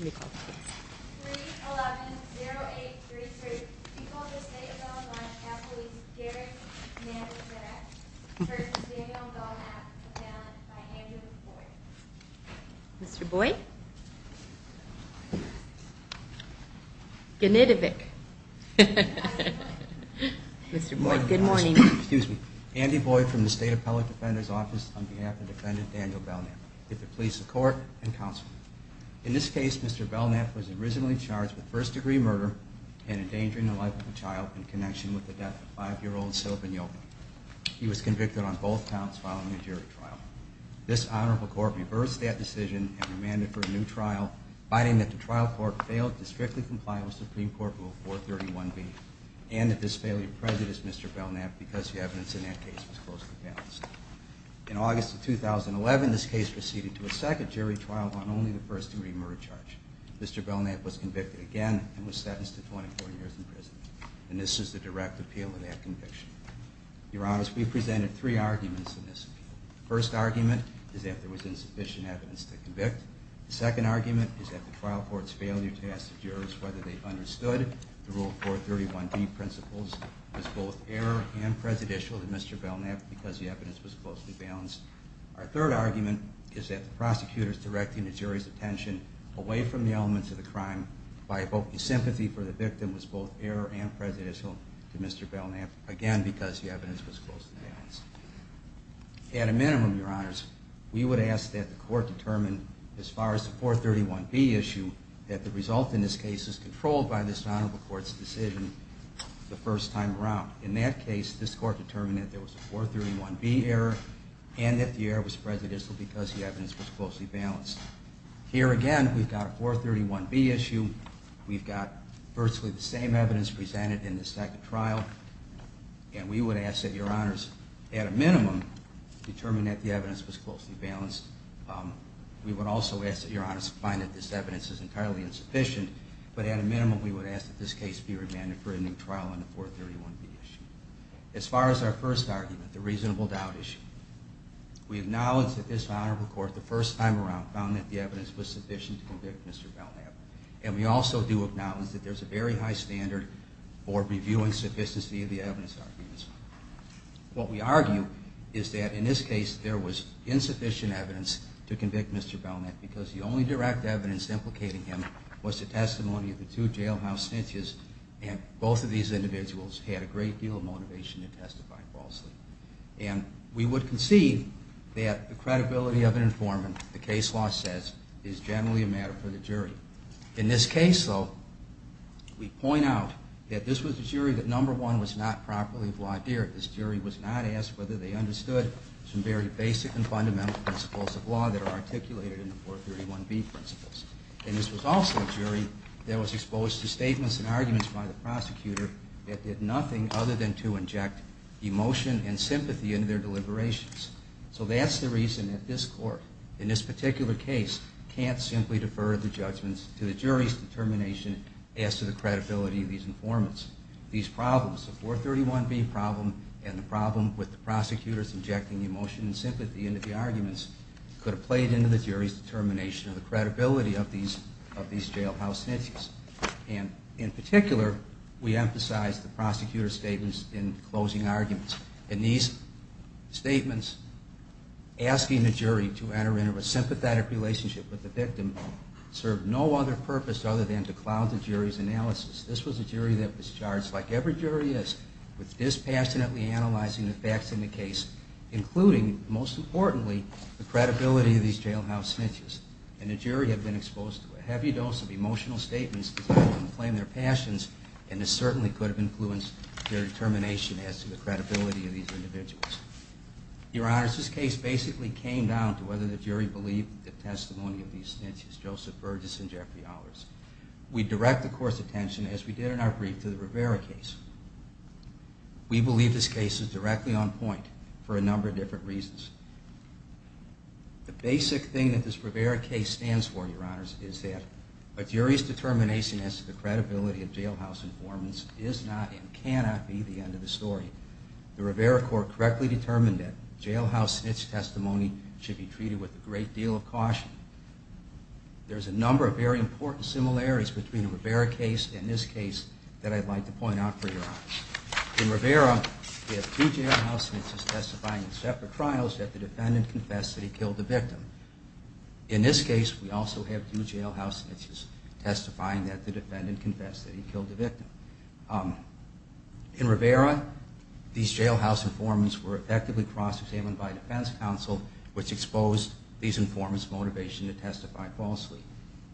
311-0833, people of the state of Bellevue County Police, Garrick Nandesinak, First, Daniel Belknap, defendant, by Andrew Boyd. Mr. Boyd? Gnidovic. Mr. Boyd, good morning. Andy Boyd from the State Appellate Defender's Office on behalf of defendant Daniel Belknap. In this case, Mr. Belknap was originally charged with first-degree murder and endangering the life of a child in connection with the death of five-year-old Sylvain Yolke. He was convicted on both counts following a jury trial. This honorable court reversed that decision and remanded for a new trial, finding that the trial court failed to strictly comply with Supreme Court Rule 431B and that this failure prejudiced Mr. Belknap because the evidence in that case was closely balanced. In August of 2011, this case proceeded to a second jury trial on only the first-degree murder charge. Mr. Belknap was convicted again and was sentenced to 24 years in prison. And this is the direct appeal of that conviction. Your Honors, we presented three arguments in this appeal. The first argument is that there was insufficient evidence to convict. The second argument is that the trial court's failure to ask the jurors whether they understood the Rule 431B principles was both error and prejudicial to Mr. Belknap because the evidence was closely balanced. Our third argument is that the prosecutors directing the jury's attention away from the elements of the crime by evoking sympathy for the victim was both error and prejudicial to Mr. Belknap, again, because the evidence was closely balanced. At a minimum, Your Honors, we would ask that the court determine, as far as the 431B issue, that the result in this case is controlled by this honorable court's decision the first time around. In that case, this court determined that there was a 431B error and that the error was prejudicial because the evidence was closely balanced. Here again, we've got a 431B issue. We've got virtually the same evidence presented in the second trial. And we would ask that Your Honors, at a minimum, determine that the evidence was closely balanced. We would also ask that Your Honors find that this evidence is entirely insufficient. But at a minimum, we would ask that this case be remanded for a new trial on the 431B issue. As far as our first argument, the reasonable doubt issue, we acknowledge that this honorable court, the first time around, found that the evidence was sufficient to convict Mr. Belknap. And we also do acknowledge that there's a very high standard for reviewing sufficiency of the evidence arguments. What we argue is that in this case, there was insufficient evidence to convict Mr. Belknap because the only direct evidence implicating him was the testimony of the two jailhouse snitches. And both of these individuals had a great deal of motivation to testify falsely. And we would concede that the credibility of an informant, the case law says, is generally a matter for the jury. In this case, though, we point out that this was a jury that, number one, was not properly law-adhered. This jury was not asked whether they understood some very basic and fundamental principles of law that are articulated in the 431B principles. And this was also a jury that was exposed to statements and arguments by the prosecutor that did nothing other than to inject emotion and sympathy into their deliberations. So that's the reason that this court, in this particular case, can't simply defer the judgments to the jury's determination as to the credibility of these informants. These problems, the 431B problem and the problem with the prosecutors injecting emotion and sympathy into the arguments could have played into the jury's determination of the credibility of these jailhouse snitches. And in particular, we emphasize the prosecutor's statements in closing arguments. And these statements asking the jury to enter into a sympathetic relationship with the victim served no other purpose other than to cloud the jury's analysis. This was a jury that was charged, like every jury is, with dispassionately analyzing the facts in the case, including, most importantly, the credibility of these jailhouse snitches. And the jury had been exposed to a heavy dose of emotional statements designed to inflame their passions, and this certainly could have influenced their determination as to the credibility of these individuals. Your Honors, this case basically came down to whether the jury believed the testimony of these snitches, Joseph Burgess and Jeffrey Ahlers. We direct the court's attention, as we did in our brief, to the Rivera case. We believe this case is directly on point for a number of different reasons. The basic thing that this Rivera case stands for, Your Honors, is that a jury's determination as to the credibility of jailhouse informants is not and cannot be the end of the story. The Rivera court correctly determined that jailhouse snitch testimony should be treated with a great deal of caution. There's a number of very important similarities between the Rivera case and this case that I'd like to point out for Your Honors. In Rivera, we have two jailhouse snitches testifying in separate trials that the defendant confessed that he killed the victim. In this case, we also have two jailhouse snitches testifying that the defendant confessed that he killed the victim. In Rivera, these jailhouse informants were effectively cross-examined by defense counsel, which exposed these informants' motivation to testify falsely.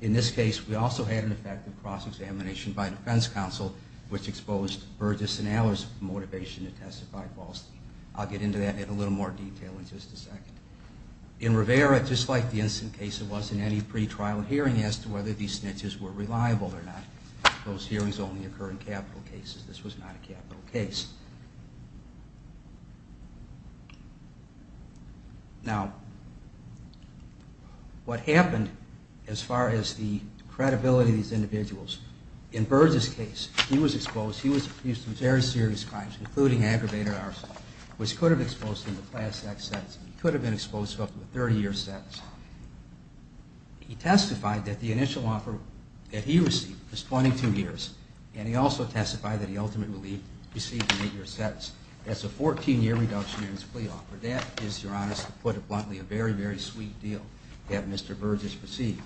In this case, we also had an effective cross-examination by defense counsel, which exposed Burgess and Ahlers' motivation to testify falsely. I'll get into that in a little more detail in just a second. In Rivera, just like the Instant Case, there wasn't any pre-trial hearing as to whether these snitches were reliable or not. Those hearings only occur in capital cases. This was not a capital case. Now, what happened as far as the credibility of these individuals, in Burgess' case, he was exposed. He was accused of very serious crimes, including aggravated arson, which could have exposed him to class-X sentencing. He could have been exposed to up to a 30-year sentence. He testified that the initial offer that he received was 22 years, and he also testified that he ultimately received an eight-year sentence. That's a 14-year reduction in his plea offer. That is, Your Honor, to put it bluntly, a very, very sweet deal that Mr. Burgess received.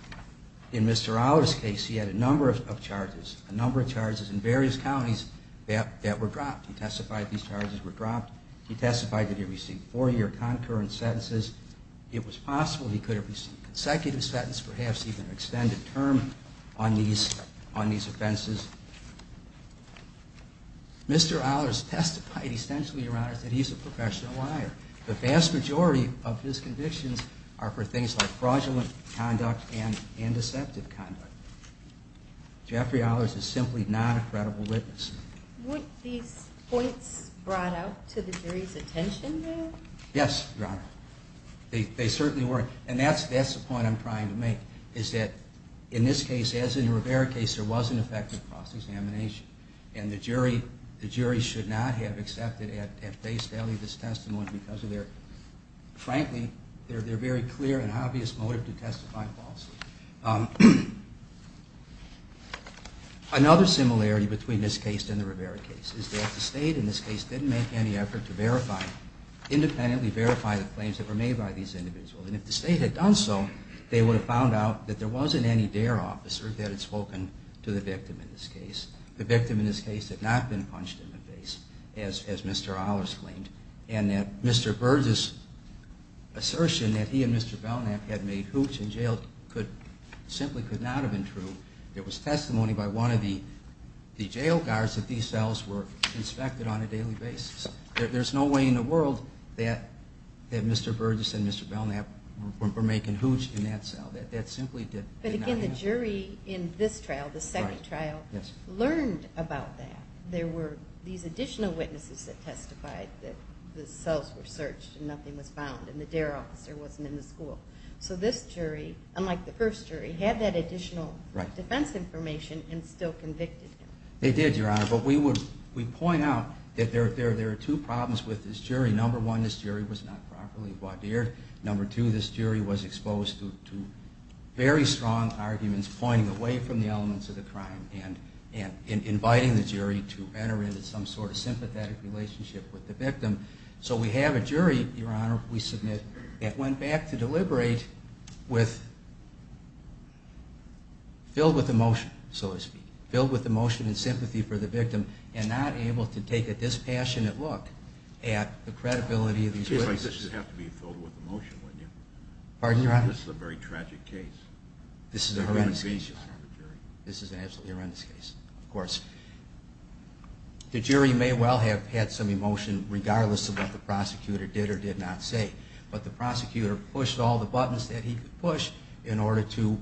In Mr. Ahlers' case, he had a number of charges, a number of charges in various counties that were dropped. He testified these charges were dropped. He testified that he received four-year concurrent sentences. It was possible he could have received a consecutive sentence, perhaps even an extended term on these offenses. Mr. Ahlers testified, essentially, Your Honor, that he's a professional liar. The vast majority of his convictions are for things like fraudulent conduct and deceptive conduct. Jeffrey Ahlers is simply not a credible witness. Were these points brought out to the jury's attention, though? Yes, Your Honor. They certainly were. And that's the point I'm trying to make, is that in this case, as in the Rivera case, there was an effective cross-examination, and the jury should not have accepted at face value this testimony because of their, frankly, their very clear and obvious motive to testify falsely. Another similarity between this case and the Rivera case is that the State, in this case, didn't make any effort to verify, independently verify the claims that were made by these individuals. And if the State had done so, they would have found out that there wasn't any DARE officer that had spoken to the victim in this case. The victim in this case had not been punched in the face, as Mr. Ahlers claimed, and that Mr. Burgess' assertion that he and Mr. Belknap had made hooch in jail could not have been true. It simply could not have been true. It was testimony by one of the jail guards that these cells were inspected on a daily basis. There's no way in the world that Mr. Burgess and Mr. Belknap were making hooch in that cell. That simply did not happen. But again, the jury in this trial, the second trial, learned about that. There were these additional witnesses that testified that the first jury had that additional defense information and still convicted him. They did, Your Honor. But we point out that there are two problems with this jury. Number one, this jury was not properly vaudeered. Number two, this jury was exposed to very strong arguments pointing away from the elements of the crime and inviting the jury to enter into some sort of sympathetic relationship with the victim. So we have a jury, Your Honor, we submit that went back to filled with emotion, so to speak. Filled with emotion and sympathy for the victim and not able to take a dispassionate look at the credibility of these witnesses. In a case like this, you'd have to be filled with emotion, wouldn't you? This is a very tragic case. This is a horrendous case, Your Honor. This is an absolutely horrendous case, of course. The jury may well have had some emotion regardless of what the prosecutor did or did not say. But the prosecutor pushed all the buttons that he could push in order to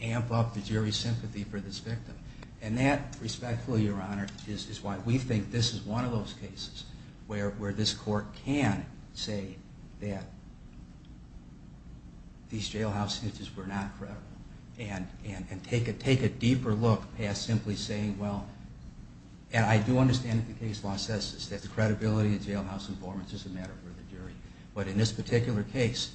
amp up the jury's sympathy for this victim. And that, respectfully, Your Honor, is why we think this is one of those cases where this court can say that these jailhouse witnesses were not credible and take a deeper look past simply saying, well, and I do understand that the credibility of jailhouse informants is a matter for the jury. But in this particular case,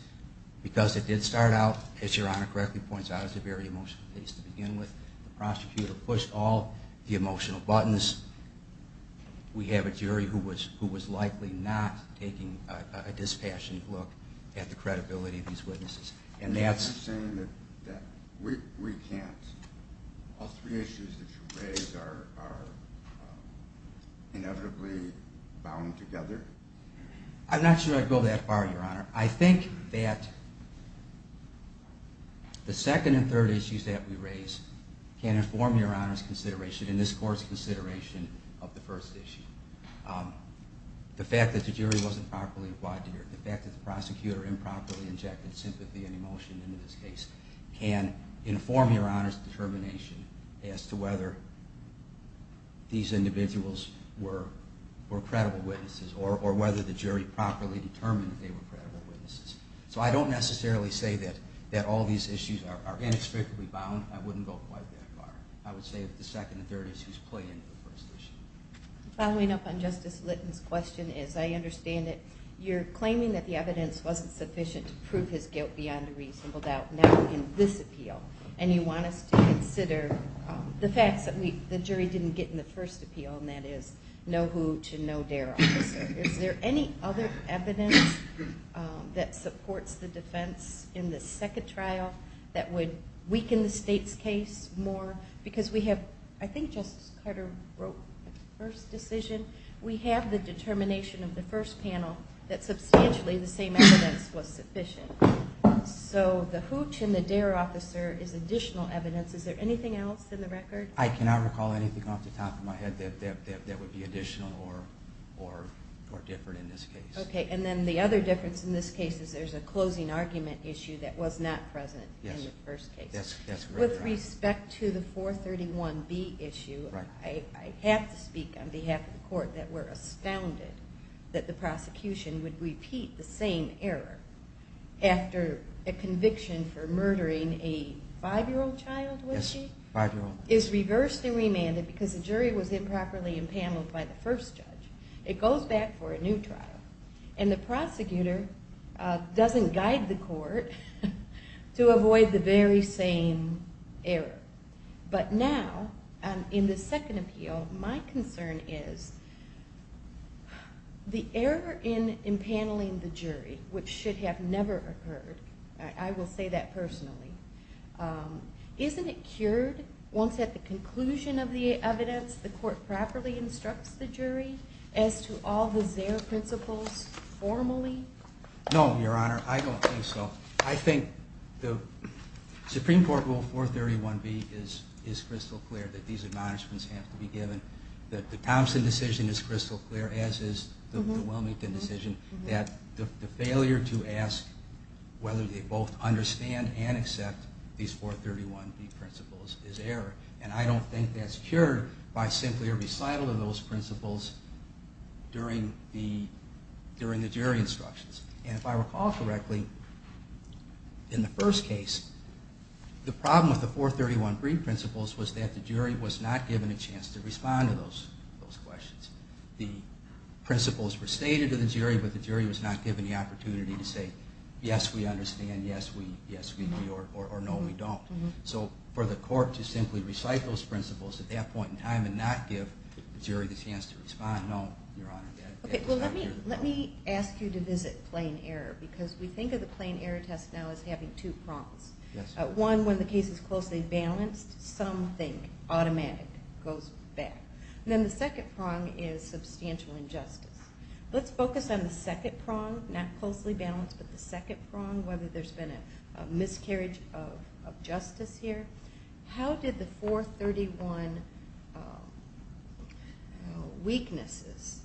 because it did start out, as Your Honor correctly points out, as a very emotional case to begin with, the prosecutor pushed all the emotional buttons. We have a jury who was likely not taking a dispassionate look at the credibility of these witnesses. And that's... All three issues that you raise are inevitably bound together? I'm not sure I'd go that far, Your Honor. I think that the second and third issues that we raise can inform Your Honor's consideration and this court's consideration of the first issue. The fact that the jury wasn't properly wide-eared, the fact that the prosecutor improperly questioned into this case can inform Your Honor's determination as to whether these individuals were credible witnesses or whether the jury properly determined that they were credible witnesses. So I don't necessarily say that all these issues are inexplicably bound. I wouldn't go quite that far. I would say that the second and third issues play into the first issue. Following up on Justice Litton's question, as I understand it, you're claiming that the evidence wasn't sufficient to prove his guilt beyond a reasonable doubt now in this appeal. And you want us to consider the facts that the jury didn't get in the first appeal, and that is know who to know there. Is there any other evidence that supports the defense in the second trial that would weaken the State's case more? Because we have... Justice Carter wrote the first decision. We have the determination of the first panel that substantially the same evidence was sufficient. So the hooch and the dare officer is additional evidence. Is there anything else in the record? I cannot recall anything off the top of my head that would be additional or different in this case. Okay. And then the other difference in this case is there's a closing argument issue that was not present in the first case. Yes. That's correct. With respect to the 431B issue, I have to speak on behalf of the court that we're astounded that the prosecution would repeat the same error after a conviction for murdering a five-year-old child, was she? Yes, a five-year-old. Is reversed and remanded because the jury was improperly impaneled by the first judge. It goes back for a new trial. And the prosecutor doesn't guide the court to avoid the very same error. But now, in the second appeal, my concern is the error in impaneling the jury, which should have never occurred, I will say that personally, isn't it cured once at the conclusion of the evidence the court properly instructs the jury as to all the Zare principles formally? No, Your Honor, I don't think so. I think the Supreme Court rule 431B is crystal clear that these acknowledgements have to be given, that the Thompson decision is crystal clear, as is the Wilmington decision, that the failure to ask whether they both understand and accept these 431B principles is error. And I don't think that's cured by simply a recital of those principles during the jury instructions. And if I recall correctly, in the first case, the problem with the 431B principles was that the jury was not given a chance to respond to those questions. The principles were stated to the jury, but the jury was not given the chance to respond. No, Your Honor, that is not cured. Let me ask you to visit plain error, because we think of the plain error test now as having two prongs. One, when the case is closely balanced, something automatic goes back. And then the second prong is substantial injustice. Let's focus on the second prong, not closely balanced, but the second prong, whether there's been a miscarriage of justice here. How did the 431 weaknesses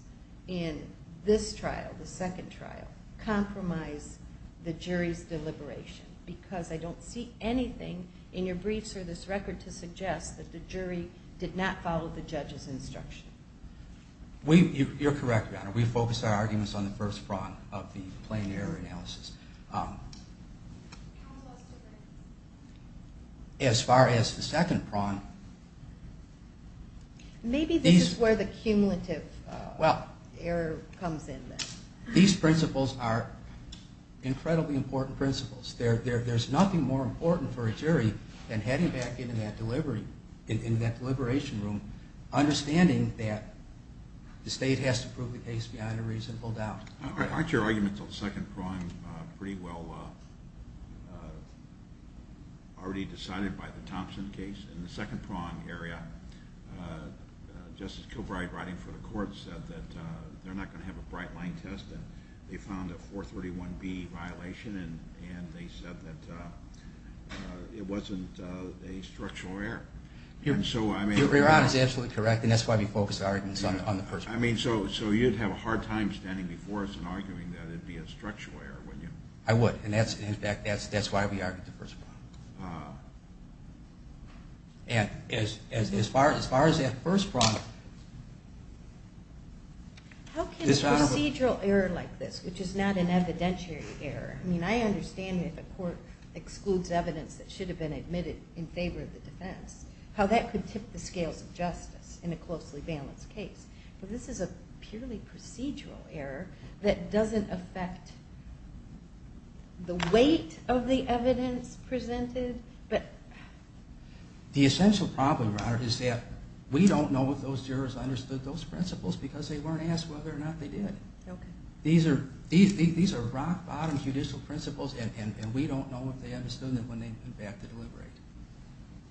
in this trial, the second trial, compromise the jury's deliberation? Because I don't see anything in your briefs or this record to suggest that the jury did not follow the judge's instruction. You're correct, Your Honor. We focused our arguments on the first prong of the plain error analysis. How was that different? As far as the second prong. Maybe this is where the cumulative error comes in. These principles are incredibly important principles. There's nothing more important for a jury than heading back into that deliberation room, understanding that the state has to prove the case behind a reasonable doubt. Aren't your arguments on the second prong pretty well already decided by the Thompson case? In the second prong area, Justice Kilbride, writing for the court, said that they're not going to have a bright-line test, and they found a 431B violation, and they said that it wasn't a structural error. Your Honor is absolutely correct, and that's why we focused our arguments on the first prong. So you'd have a hard time standing before us and arguing that it'd be a structural error, wouldn't you? I would, and in fact, that's why we argued the first prong. And as far as that first prong. How can a procedural error like this, which is not an evidentiary error, I mean, I understand that the court excludes evidence that should have been admitted in favor of the defense, how that could tip the scales of justice in a closely balanced case. But this is a purely procedural error that doesn't affect the weight of the evidence presented? The essential problem, Your Honor, is that we don't know if those jurors understood those principles because they weren't asked whether or not they did. These are rock-bottom judicial principles, and we don't know if they understood them when they went back to deliberate.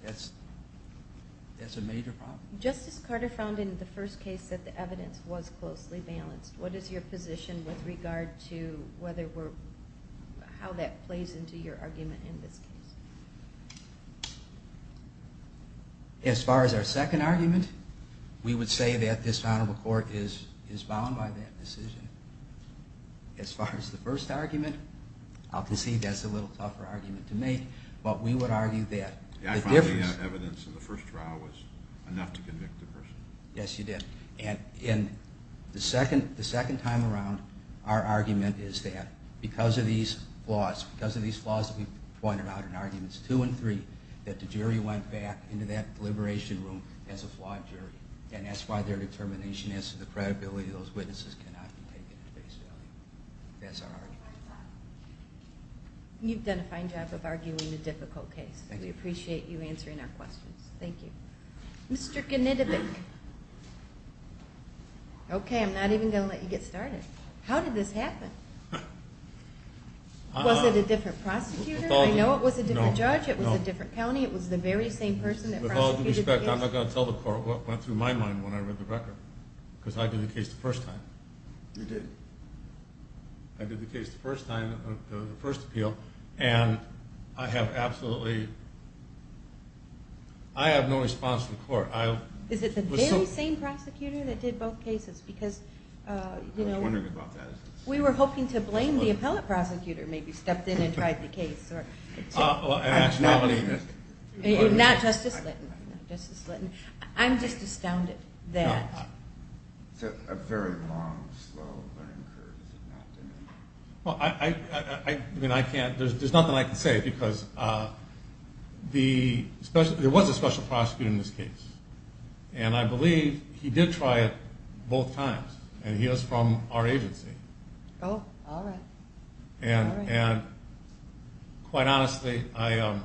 That's a major problem. Justice Carter found in the first case that the evidence was closely balanced. What is your position with regard to how that plays into your argument in this case? As far as our second argument, we would say that this Honorable Court is bound by that decision. As far as the first argument, I'll concede that's a little tougher argument to make, but we would argue that the difference... Yeah, I found the evidence in the first trial was enough to convict the person. Yes, you did. The second time around, our argument is that because of these flaws that we pointed out in arguments two and three, that the jury went back into that deliberation room as a flawed jury, and that's why their determination as to the credibility of those witnesses cannot be taken at face value. That's our argument. You've done a fine job of arguing the difficult case. Thank you. We appreciate you answering our questions. Thank you. Mr. Knitobik. Okay, I'm not even going to let you get started. How did this happen? Was it a different prosecutor? I know it was a different judge. It was a different county. It was the very same person that prosecuted the case. With all due respect, I'm not going to tell the Court what went through my mind when I read the record, because I did the case the first time. You did. I did the case the first time, the first appeal, and I have absolutely... I have no response from the Court. Is it the very same prosecutor that did both cases? I was wondering about that. We were hoping to blame the appellate prosecutor, maybe stepped in and tried the case. Not Justice Litton. I'm just astounded that... It's a very long, slow learning curve. Well, there's nothing I can say, because there was a special prosecutor in this case, and I believe he did try it both times, and he was from our agency. Oh, all right. And quite honestly, I...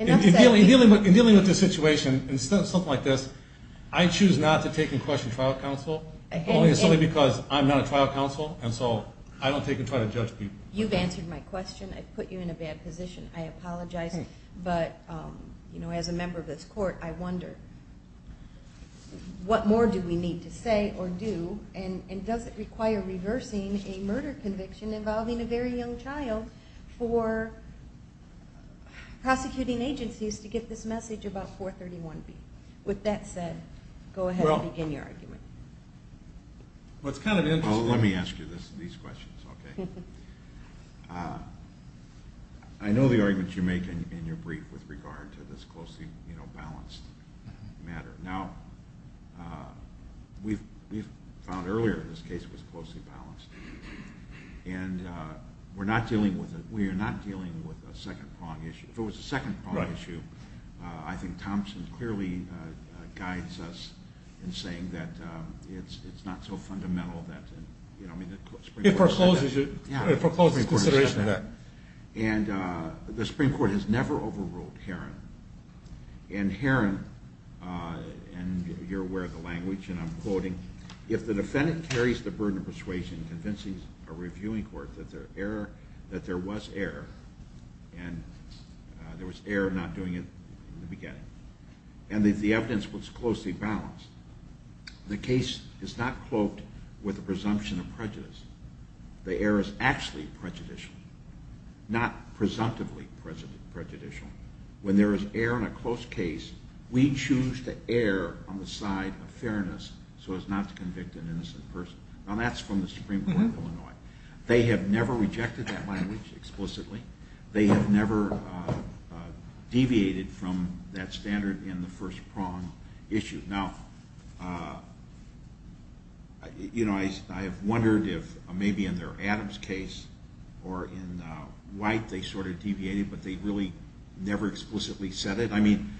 In dealing with this situation, something like this, I choose not to take in question trial counsel, only because I'm not a trial counsel, and so I don't take and try to judge people. You've answered my question. I've put you in a bad position. I apologize, but as a member of this Court, I wonder, what more do we need to say or do, and does it require reversing a murder conviction involving a very young child for prosecuting agencies to get this message about 431B? With that said, go ahead and begin your argument. Well, it's kind of interesting... Well, let me ask you these questions, okay? I know the arguments you make in your brief with regard to this closely balanced matter. Now, we found earlier this case was closely balanced, and we are not dealing with a second-prong issue. If it was a second-prong issue, I think Thompson clearly guides us in saying that it's not so fundamental that... It forecloses consideration of that. And the Supreme Court has never overruled Herron. And Herron, and you're aware of the language, and I'm quoting, If the defendant carries the burden of persuasion convincing a reviewing court that there was error, and there was error not doing it in the beginning, and that the evidence was closely balanced, the case is not cloaked with a presumption of prejudice. The error is actually prejudicial, not presumptively prejudicial. When there is error in a close case, we choose to err on the side of fairness so as not to convict an innocent person. Now, that's from the Supreme Court of Illinois. They have never rejected that language explicitly. They have never deviated from that standard in the first-prong issue. Now, you know, I have wondered if maybe in their Adams case or in White, they sort of deviated, but they really never explicitly said it. I mean,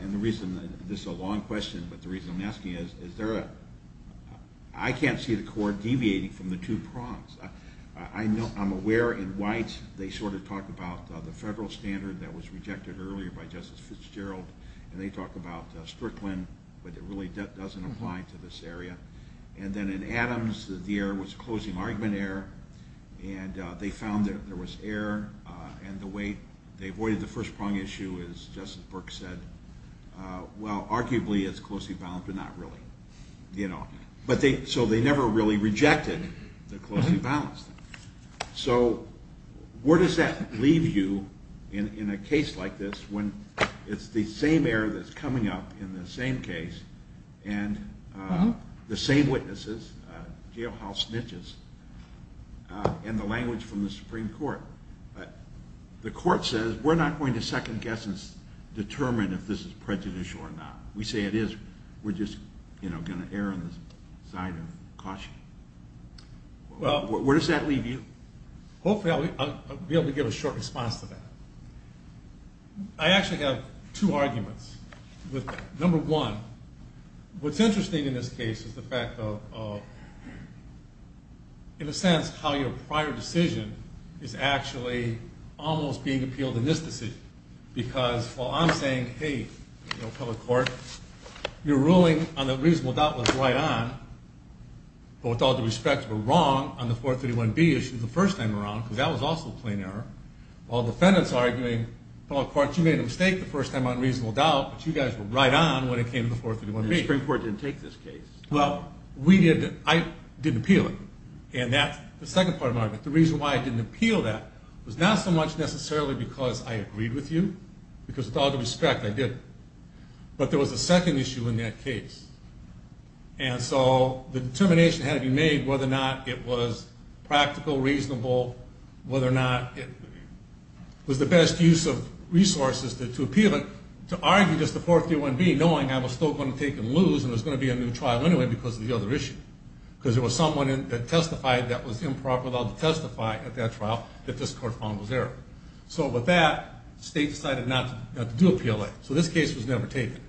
and the reason, this is a long question, but the reason I'm asking is I can't see the court deviating from the two prongs. I'm aware in White they sort of talk about the federal standard that was rejected earlier by Justice Fitzgerald, and they talk about Strickland, but it really doesn't apply to this area. And then in Adams, the error was closing argument error, and they found that there was error, and the way they avoided the first-prong issue is, as Justice Burke said, well, arguably it's closely balanced, but not really. So they never really rejected the closely balanced. So where does that leave you in a case like this when it's the same error that's coming up in the same case and the same witnesses, jailhouse snitches, and the language from the Supreme Court? The court says we're not going to second-guess and determine if this is prejudicial or not. We say it is. We're just going to err on the side of caution. Where does that leave you? Hopefully I'll be able to give a short response to that. I actually have two arguments with that. Number one, what's interesting in this case is the fact of, in a sense, how your prior decision is actually almost being appealed in this decision, because while I'm saying, hey, you know, public court, your ruling on the reasonable doubt was right on, but with all due respect were wrong on the 431B issue the first time around, because that was also a plain error, while defendants are arguing, public court, you made a mistake the first time on reasonable doubt, but you guys were right on when it came to the 431B. The Supreme Court didn't take this case. Well, we didn't. I didn't appeal it, and that's the second part of my argument. The reason why I didn't appeal that was not so much necessarily because I agreed with you, because with all due respect, I didn't, but there was a second issue in that case, and so the determination had to be made whether or not it was practical, reasonable, whether or not it was the best use of resources to appeal it, or to argue just the 431B knowing I was still going to take and lose and there was going to be a new trial anyway because of the other issue, because there was someone that testified that was improper to testify at that trial that this court found was error. So with that, the state decided not to do appeal it. So this case was never taken.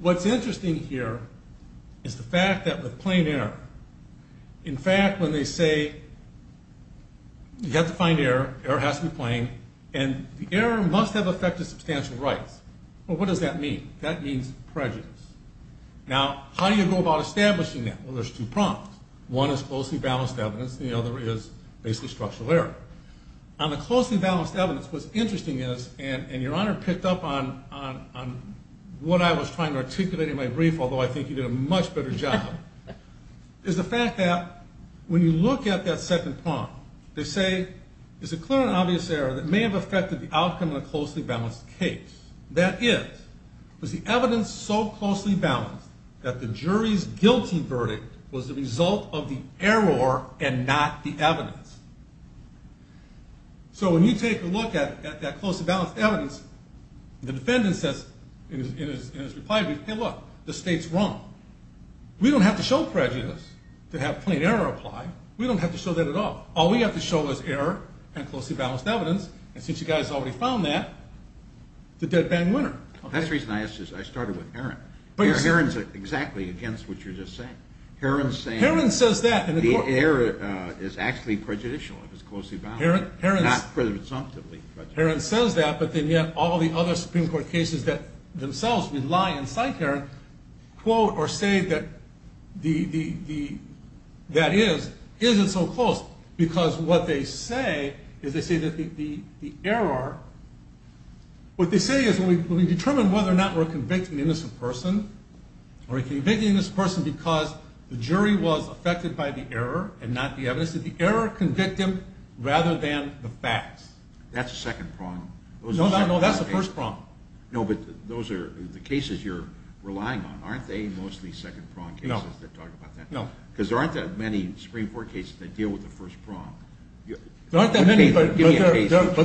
What's interesting here is the fact that with plain error, in fact, when they say you have to find error, error has to be plain, and the error must have affected substantial rights. Well, what does that mean? That means prejudice. Now, how do you go about establishing that? Well, there's two prongs. One is closely balanced evidence, and the other is basically structural error. On the closely balanced evidence, what's interesting is, and Your Honor picked up on what I was trying to articulate in my brief, although I think you did a much better job, is the fact that when you look at that second prong, they say it's a clear and obvious error that may have affected the outcome of a closely balanced case. That is, was the evidence so closely balanced that the jury's guilty verdict was the result of the error and not the evidence? So when you take a look at that closely balanced evidence, the defendant says in his reply brief, hey, look, the state's wrong. We don't have to show prejudice to have plain error apply. We don't have to show that at all. All we have to show is error and closely balanced evidence, and since you guys already found that, the dead bang winner. That's the reason I started with Herron. Herron's exactly against what you're just saying. Herron's saying the error is actually prejudicial if it's closely balanced, not presumptively prejudicial. Herron says that, but then yet all the other Supreme Court cases that themselves rely on side Herron quote or say that that isn't so close because what they say is they say that the error, what they say is when we determine whether or not we're convicting an innocent person or we're convicting an innocent person because the jury was affected by the error and not the evidence, that the error convicted them rather than the facts. That's the second prong. No, that's the first prong. No, but those are the cases you're relying on. Aren't they mostly second prong cases that talk about that? No. Because there aren't that many Supreme Court cases that deal with the first prong. There aren't that many, but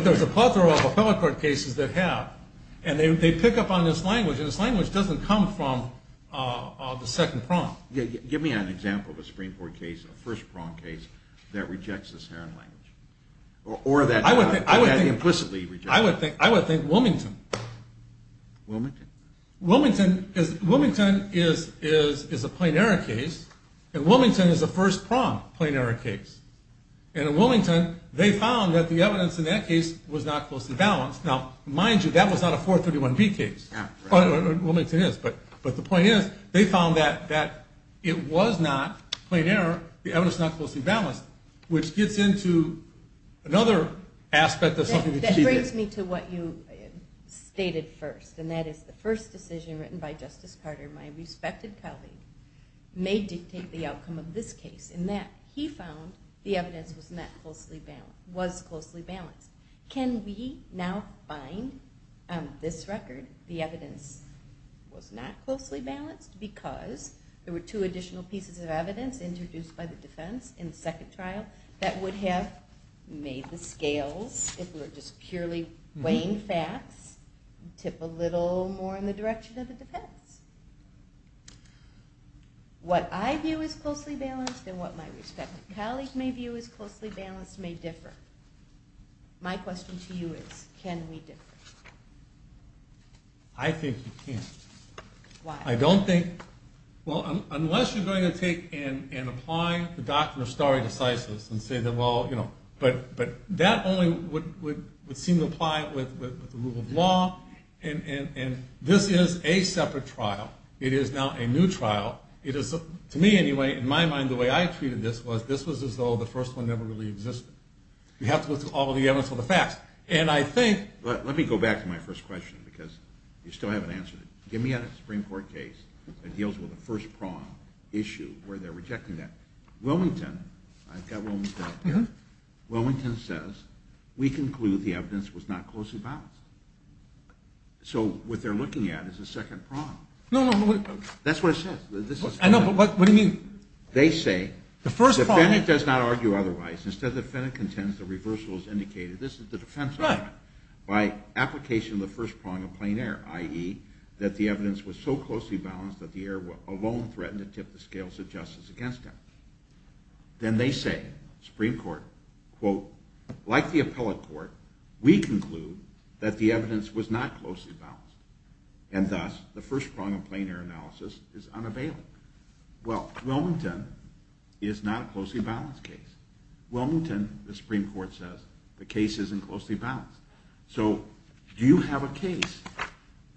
there's a plethora of appellate court cases that have, and they pick up on this language, and this language doesn't come from the second prong. Give me an example of a Supreme Court case, a first prong case, that rejects this Herron language or that implicitly rejects it. I would think Wilmington. Wilmington? Wilmington is a plain error case, and Wilmington is a first prong plain error case. And in Wilmington, they found that the evidence in that case was not closely balanced. Now, mind you, that was not a 431B case. Wilmington is, but the point is they found that it was not plain error, the evidence not closely balanced, which gets into another aspect of something. That brings me to what you stated first, and that is the first decision written by Justice Carter, my respected colleague, may dictate the outcome of this case in that he found the evidence was closely balanced. Can we now find on this record the evidence was not closely balanced because there were two additional pieces of evidence introduced by the defense in the second trial that would have made the scales, if we were just purely weighing facts, tip a little more in the direction of the defense. What I view as closely balanced and what my respected colleague may view as closely balanced may differ. My question to you is, can we differ? I think you can't. Why? I don't think, well, unless you're going to take and apply the doctrine of stare decisis and say that, well, you know, but that only would seem to apply with the rule of law, and this is a separate trial. It is now a new trial. To me, anyway, in my mind, the way I treated this was this was as though the first one never really existed. You have to look through all of the evidence for the facts, and I think... Let me go back to my first question because you still haven't answered it. Give me a Supreme Court case that deals with the first prong issue where they're rejecting that. Wilmington, I've got Wilmington up here. Wilmington says, we conclude the evidence was not closely balanced. So what they're looking at is the second prong. No, no, no. That's what it says. I know, but what do you mean? They say, the defendant does not argue otherwise. Instead, the defendant contends the reversal is indicated. This is the defense argument. By application of the first prong of plain error, i.e., that the evidence was so closely balanced that the error alone threatened to tip the scales of justice against him. Then they say, Supreme Court, quote, like the appellate court, we conclude that the evidence was not closely balanced, and thus the first prong of plain error analysis is unavailable. Well, Wilmington is not a closely balanced case. Wilmington, the Supreme Court says, the case isn't closely balanced. So do you have a case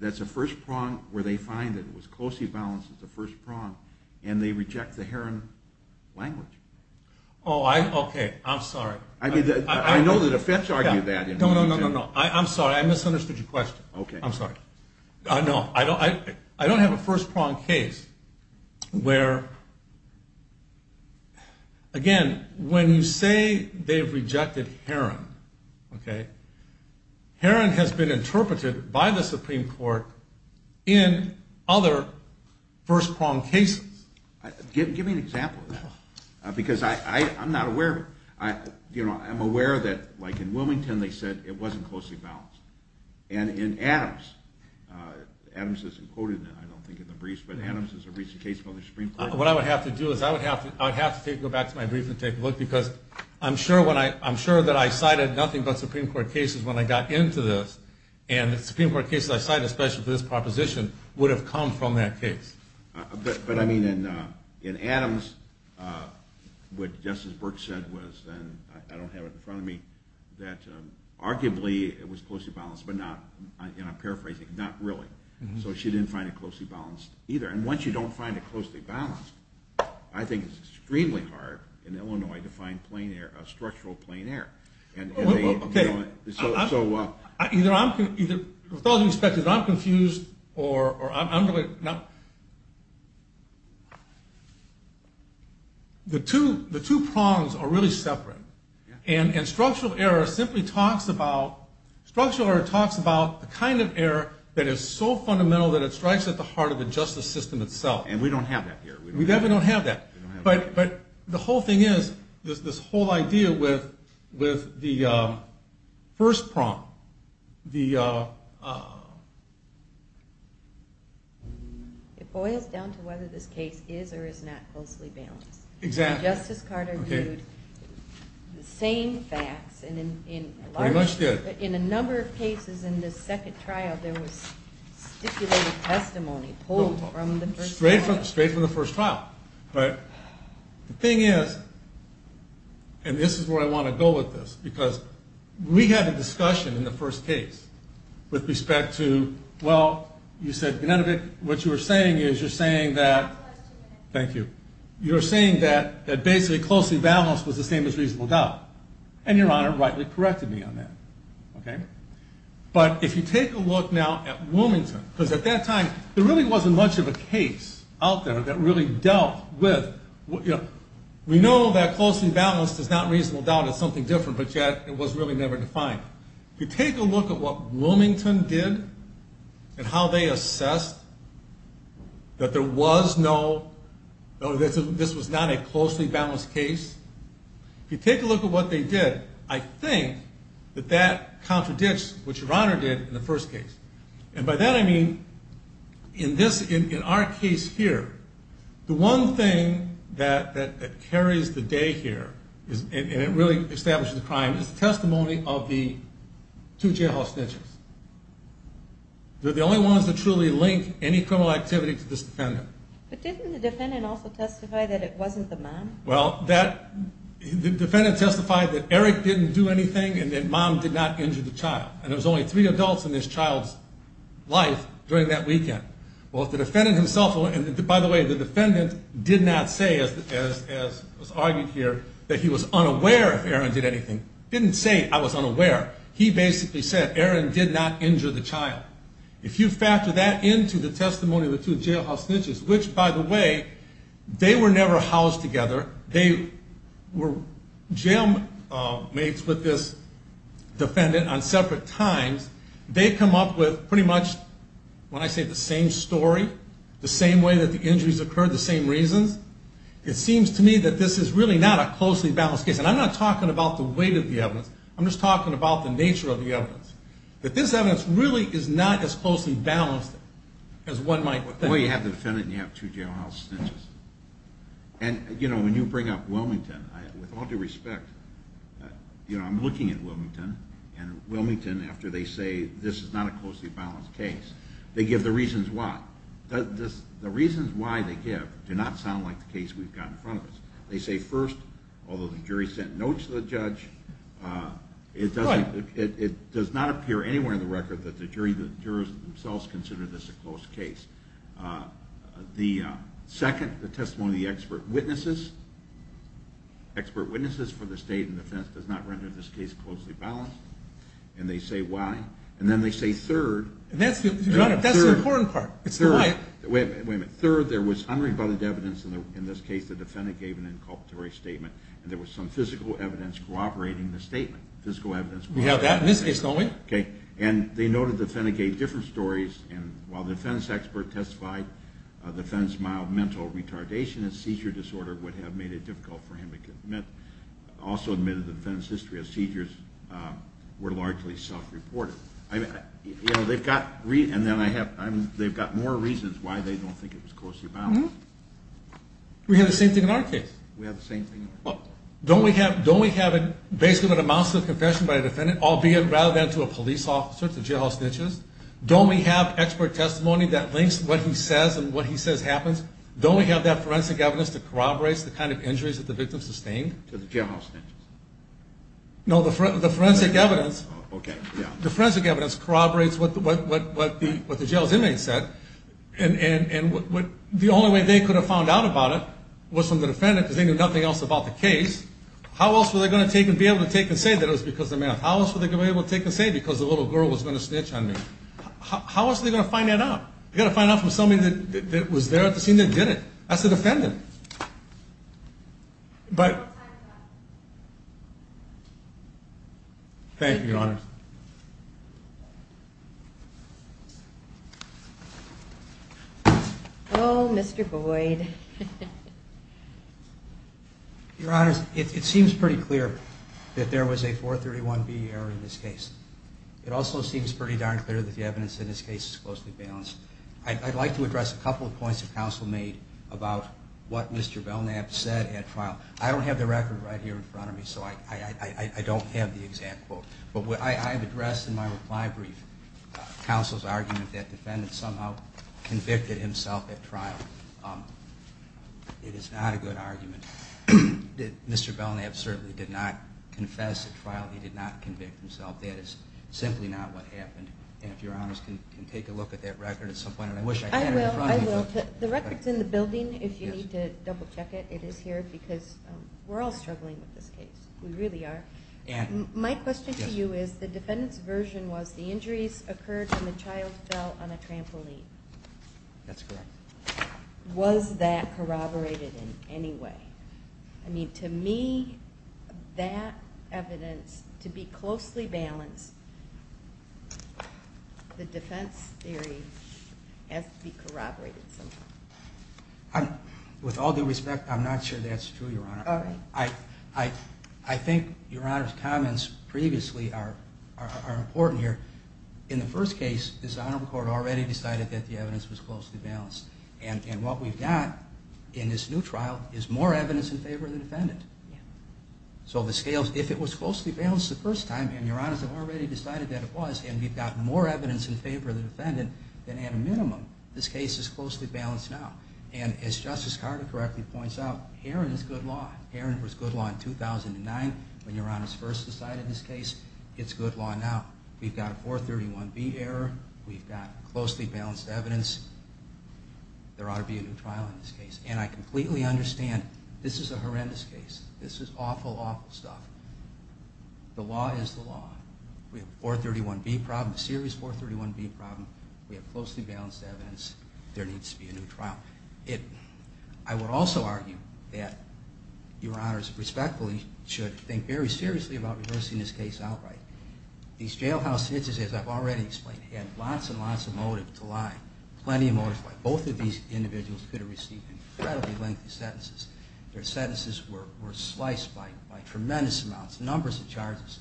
that's a first prong where they find it was closely balanced as the first prong and they reject the Heron language? Oh, okay. I'm sorry. I know the defense argued that. No, no, no, no, no. I'm sorry. I misunderstood your question. Okay. I'm sorry. No, I don't have a first prong case where, again, when you say they've rejected Heron, okay, Heron has been interpreted by the Supreme Court in other first prong cases. Give me an example of that because I'm not aware of it. You know, I'm aware that, like in Wilmington, they said it wasn't closely balanced. And in Adams, Adams isn't quoted, I don't think, in the briefs, but Adams is a recent case from the Supreme Court. What I would have to do is I would have to go back to my brief and take a look because I'm sure that I cited nothing but Supreme Court cases when I got into this, and the Supreme Court cases I cited, especially for this proposition, would have come from that case. But, I mean, in Adams, what Justice Burke said was, and I don't have it in front of me, that arguably it was closely balanced, but not, and I'm paraphrasing, not really. So she didn't find it closely balanced either. And once you don't find it closely balanced, I think it's extremely hard in Illinois to find structural plain air. Okay. With all due respect, either I'm confused or I'm really not. The two prongs are really separate, and structural error simply talks about, structural error talks about the kind of error that is so fundamental that it strikes at the heart of the justice system itself. And we don't have that here. We definitely don't have that. But the whole thing is, this whole idea with the first prong. It boils down to whether this case is or is not closely balanced. Exactly. Justice Carter viewed the same facts in a number of cases in the second trial there was stipulated testimony pulled from the first trial. But the thing is, and this is where I want to go with this, because we had a discussion in the first case with respect to, well, you said, what you were saying is, you're saying that, thank you, you're saying that basically closely balanced was the same as reasonable doubt. And your Honor rightly corrected me on that. Okay. But if you take a look now at Wilmington, because at that time, there really wasn't much of a case out there that really dealt with, we know that closely balanced is not reasonable doubt, it's something different, but yet it was really never defined. If you take a look at what Wilmington did and how they assessed that there was no, this was not a closely balanced case. If you take a look at what they did, I think that that contradicts what your Honor did in the first case. And by that I mean, in our case here, the one thing that carries the day here, and it really establishes the crime, is the testimony of the two jailhouse snitches. They're the only ones that truly link any criminal activity to this defendant. But didn't the defendant also testify that it wasn't the mom? Well, the defendant testified that Eric didn't do anything and that mom did not injure the child. And there was only three adults in this child's life during that weekend. Well, if the defendant himself, and by the way, the defendant did not say, as was argued here, that he was unaware if Aaron did anything. He didn't say, I was unaware. He basically said, Aaron did not injure the child. If you factor that into the testimony of the two jailhouse snitches, which, by the way, they were never housed together. They were jailmates with this defendant on separate times. They come up with pretty much, when I say the same story, the same way that the injuries occurred, the same reasons. It seems to me that this is really not a closely balanced case. And I'm not talking about the weight of the evidence. I'm just talking about the nature of the evidence, that this evidence really is not as closely balanced as one might think. Well, you have the defendant and you have two jailhouse snitches. And, you know, when you bring up Wilmington, with all due respect, you know, I'm looking at Wilmington, and Wilmington, after they say this is not a closely balanced case, they give the reasons why. The reasons why they give do not sound like the case we've got in front of us. They say, first, although the jury sent notes to the judge, it does not appear anywhere in the record that the jurors themselves consider this a close case. The second, the testimony of the expert witnesses, expert witnesses for the state and defense, does not render this case closely balanced. And they say why. And then they say third. That's the important part. It's the why. Wait a minute. Third, there was unrebutted evidence. In this case, the defendant gave an inculpatory statement. And there was some physical evidence corroborating the statement. Physical evidence. We have that in this case, don't we? Okay. And they noted the defendant gave different stories. And while the defense expert testified the defendant's mild mental retardation and seizure disorder would have made it difficult for him to commit, also admitted the defendant's history of seizures were largely self-reported. You know, they've got more reasons why they don't think it was closely balanced. We have the same thing in our case. We have the same thing in our case. Don't we have basically a mouthful of confession by a defendant, albeit rather than to a police officer, to jailhouse snitches? Don't we have expert testimony that links what he says and what he says happens? Don't we have that forensic evidence that corroborates the kind of injuries that the victim sustained? To the jailhouse snitches? No, the forensic evidence. Okay, yeah. The forensic evidence corroborates what the jail's inmate said. And the only way they could have found out about it was from the defendant because they knew nothing else about the case. How else were they going to take and be able to take and say that it was because of math? How else were they going to be able to take and say because the little girl was going to snitch on me? How else are they going to find that out? They've got to find out from somebody that was there at the scene that did it. That's the defendant. But... Thank you, Your Honor. Oh, Mr. Boyd. Your Honor, it seems pretty clear that there was a 431B error in this case. It also seems pretty darn clear that the evidence in this case is closely balanced. I'd like to address a couple of points that counsel made about what Mr. Belknap said at trial. I don't have the record right here in front of me, so I don't have the exact quote. But I have addressed in my reply brief counsel's argument that the defendant somehow convicted himself at trial. It is not a good argument that Mr. Belknap certainly did not confess at trial. He did not convict himself. That is simply not what happened. And if Your Honors can take a look at that record at some point. I will. The record's in the building if you need to double-check it. It is here because we're all struggling with this case. We really are. My question to you is the defendant's version was the injuries occurred when the child fell on a trampoline. That's correct. Was that corroborated in any way? I mean, to me, that evidence, to be closely balanced, the defense theory has to be corroborated somehow. With all due respect, I'm not sure that's true, Your Honor. I think Your Honor's comments previously are important here. In the first case, this honorable court already decided that the evidence was closely balanced. And what we've got in this new trial is more evidence in favor of the defendant. So if it was closely balanced the first time, and Your Honors have already decided that it was, and we've got more evidence in favor of the defendant, then at a minimum, this case is closely balanced now. And as Justice Carter correctly points out, Heron is good law. Heron was good law in 2009 when Your Honors first decided this case. It's good law now. We've got a 431B error. We've got closely balanced evidence. There ought to be a new trial in this case. And I completely understand this is a horrendous case. This is awful, awful stuff. The law is the law. We have a 431B problem, a serious 431B problem. We have closely balanced evidence. There needs to be a new trial. I would also argue that Your Honors respectfully should think very seriously about reversing this case outright. These jailhouse hitches, as I've already explained, had lots and lots of motive to lie, plenty of motive. Both of these individuals could have received incredibly lengthy sentences. Their sentences were sliced by tremendous amounts. Numbers of charges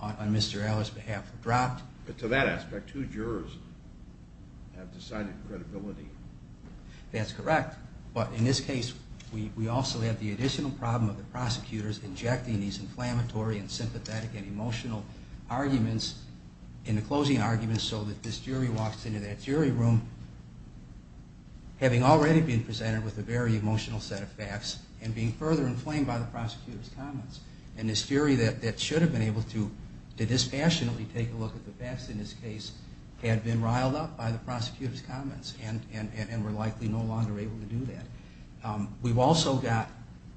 on Mr. Eller's behalf were dropped. But to that aspect, two jurors have decided credibility. That's correct. But in this case, we also have the additional problem of the prosecutors injecting these inflammatory and sympathetic and emotional arguments in the closing arguments so that this jury walks into that jury room having already been presented with a very emotional set of facts and being further inflamed by the prosecutor's comments. And this jury that should have been able to dispassionately take a look at the facts in this case had been riled up by the prosecutor's comments and were likely no longer able to do that. We've also got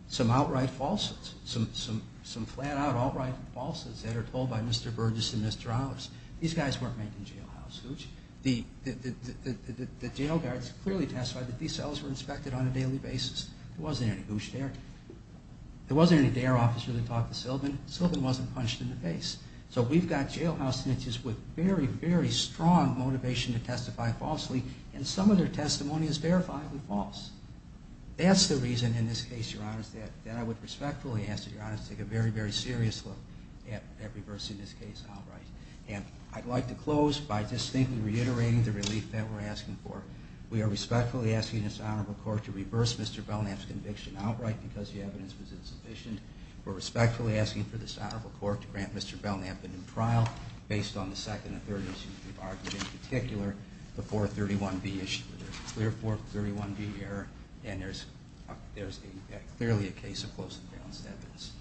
some outright falses, some flat-out outright falses that are told by Mr. Burgess and Mr. Ellers. These guys weren't making jailhouse hooch. The jail guards clearly testified that these cells were inspected on a daily basis. There wasn't any hooch there. There wasn't any dare officer that talked to Sylvan. Sylvan wasn't punched in the face. So we've got jailhouse hitches with very, very strong motivation to testify falsely, and some of their testimony is verifiably false. That's the reason in this case, Your Honors, that I would respectfully ask that Your Honors take a very, very serious look at reversing this case outright. And I'd like to close by distinctly reiterating the relief that we're asking for. We are respectfully asking this Honorable Court to reverse Mr. Belknap's conviction outright because the evidence was insufficient. We're respectfully asking for this Honorable Court to grant Mr. Belknap a new trial based on the second and third issues we've argued, in particular the 431B issue. There's a clear 431B error, and there's clearly a case of close and balanced evidence.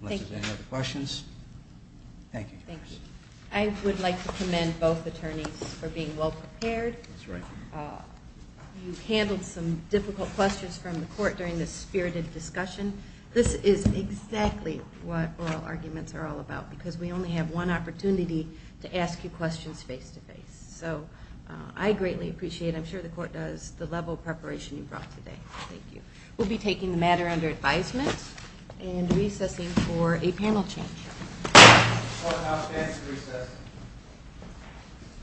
Unless there's any other questions. Thank you. Thank you. I would like to commend both attorneys for being well prepared. That's right. You handled some difficult questions from the court during this spirited discussion. This is exactly what oral arguments are all about because we only have one opportunity to ask you questions face-to-face. So I greatly appreciate it. I'm sure the court does, the level of preparation you brought today. Thank you. We'll be taking the matter under advisement and recessing for a panel change. The court now stands to recess.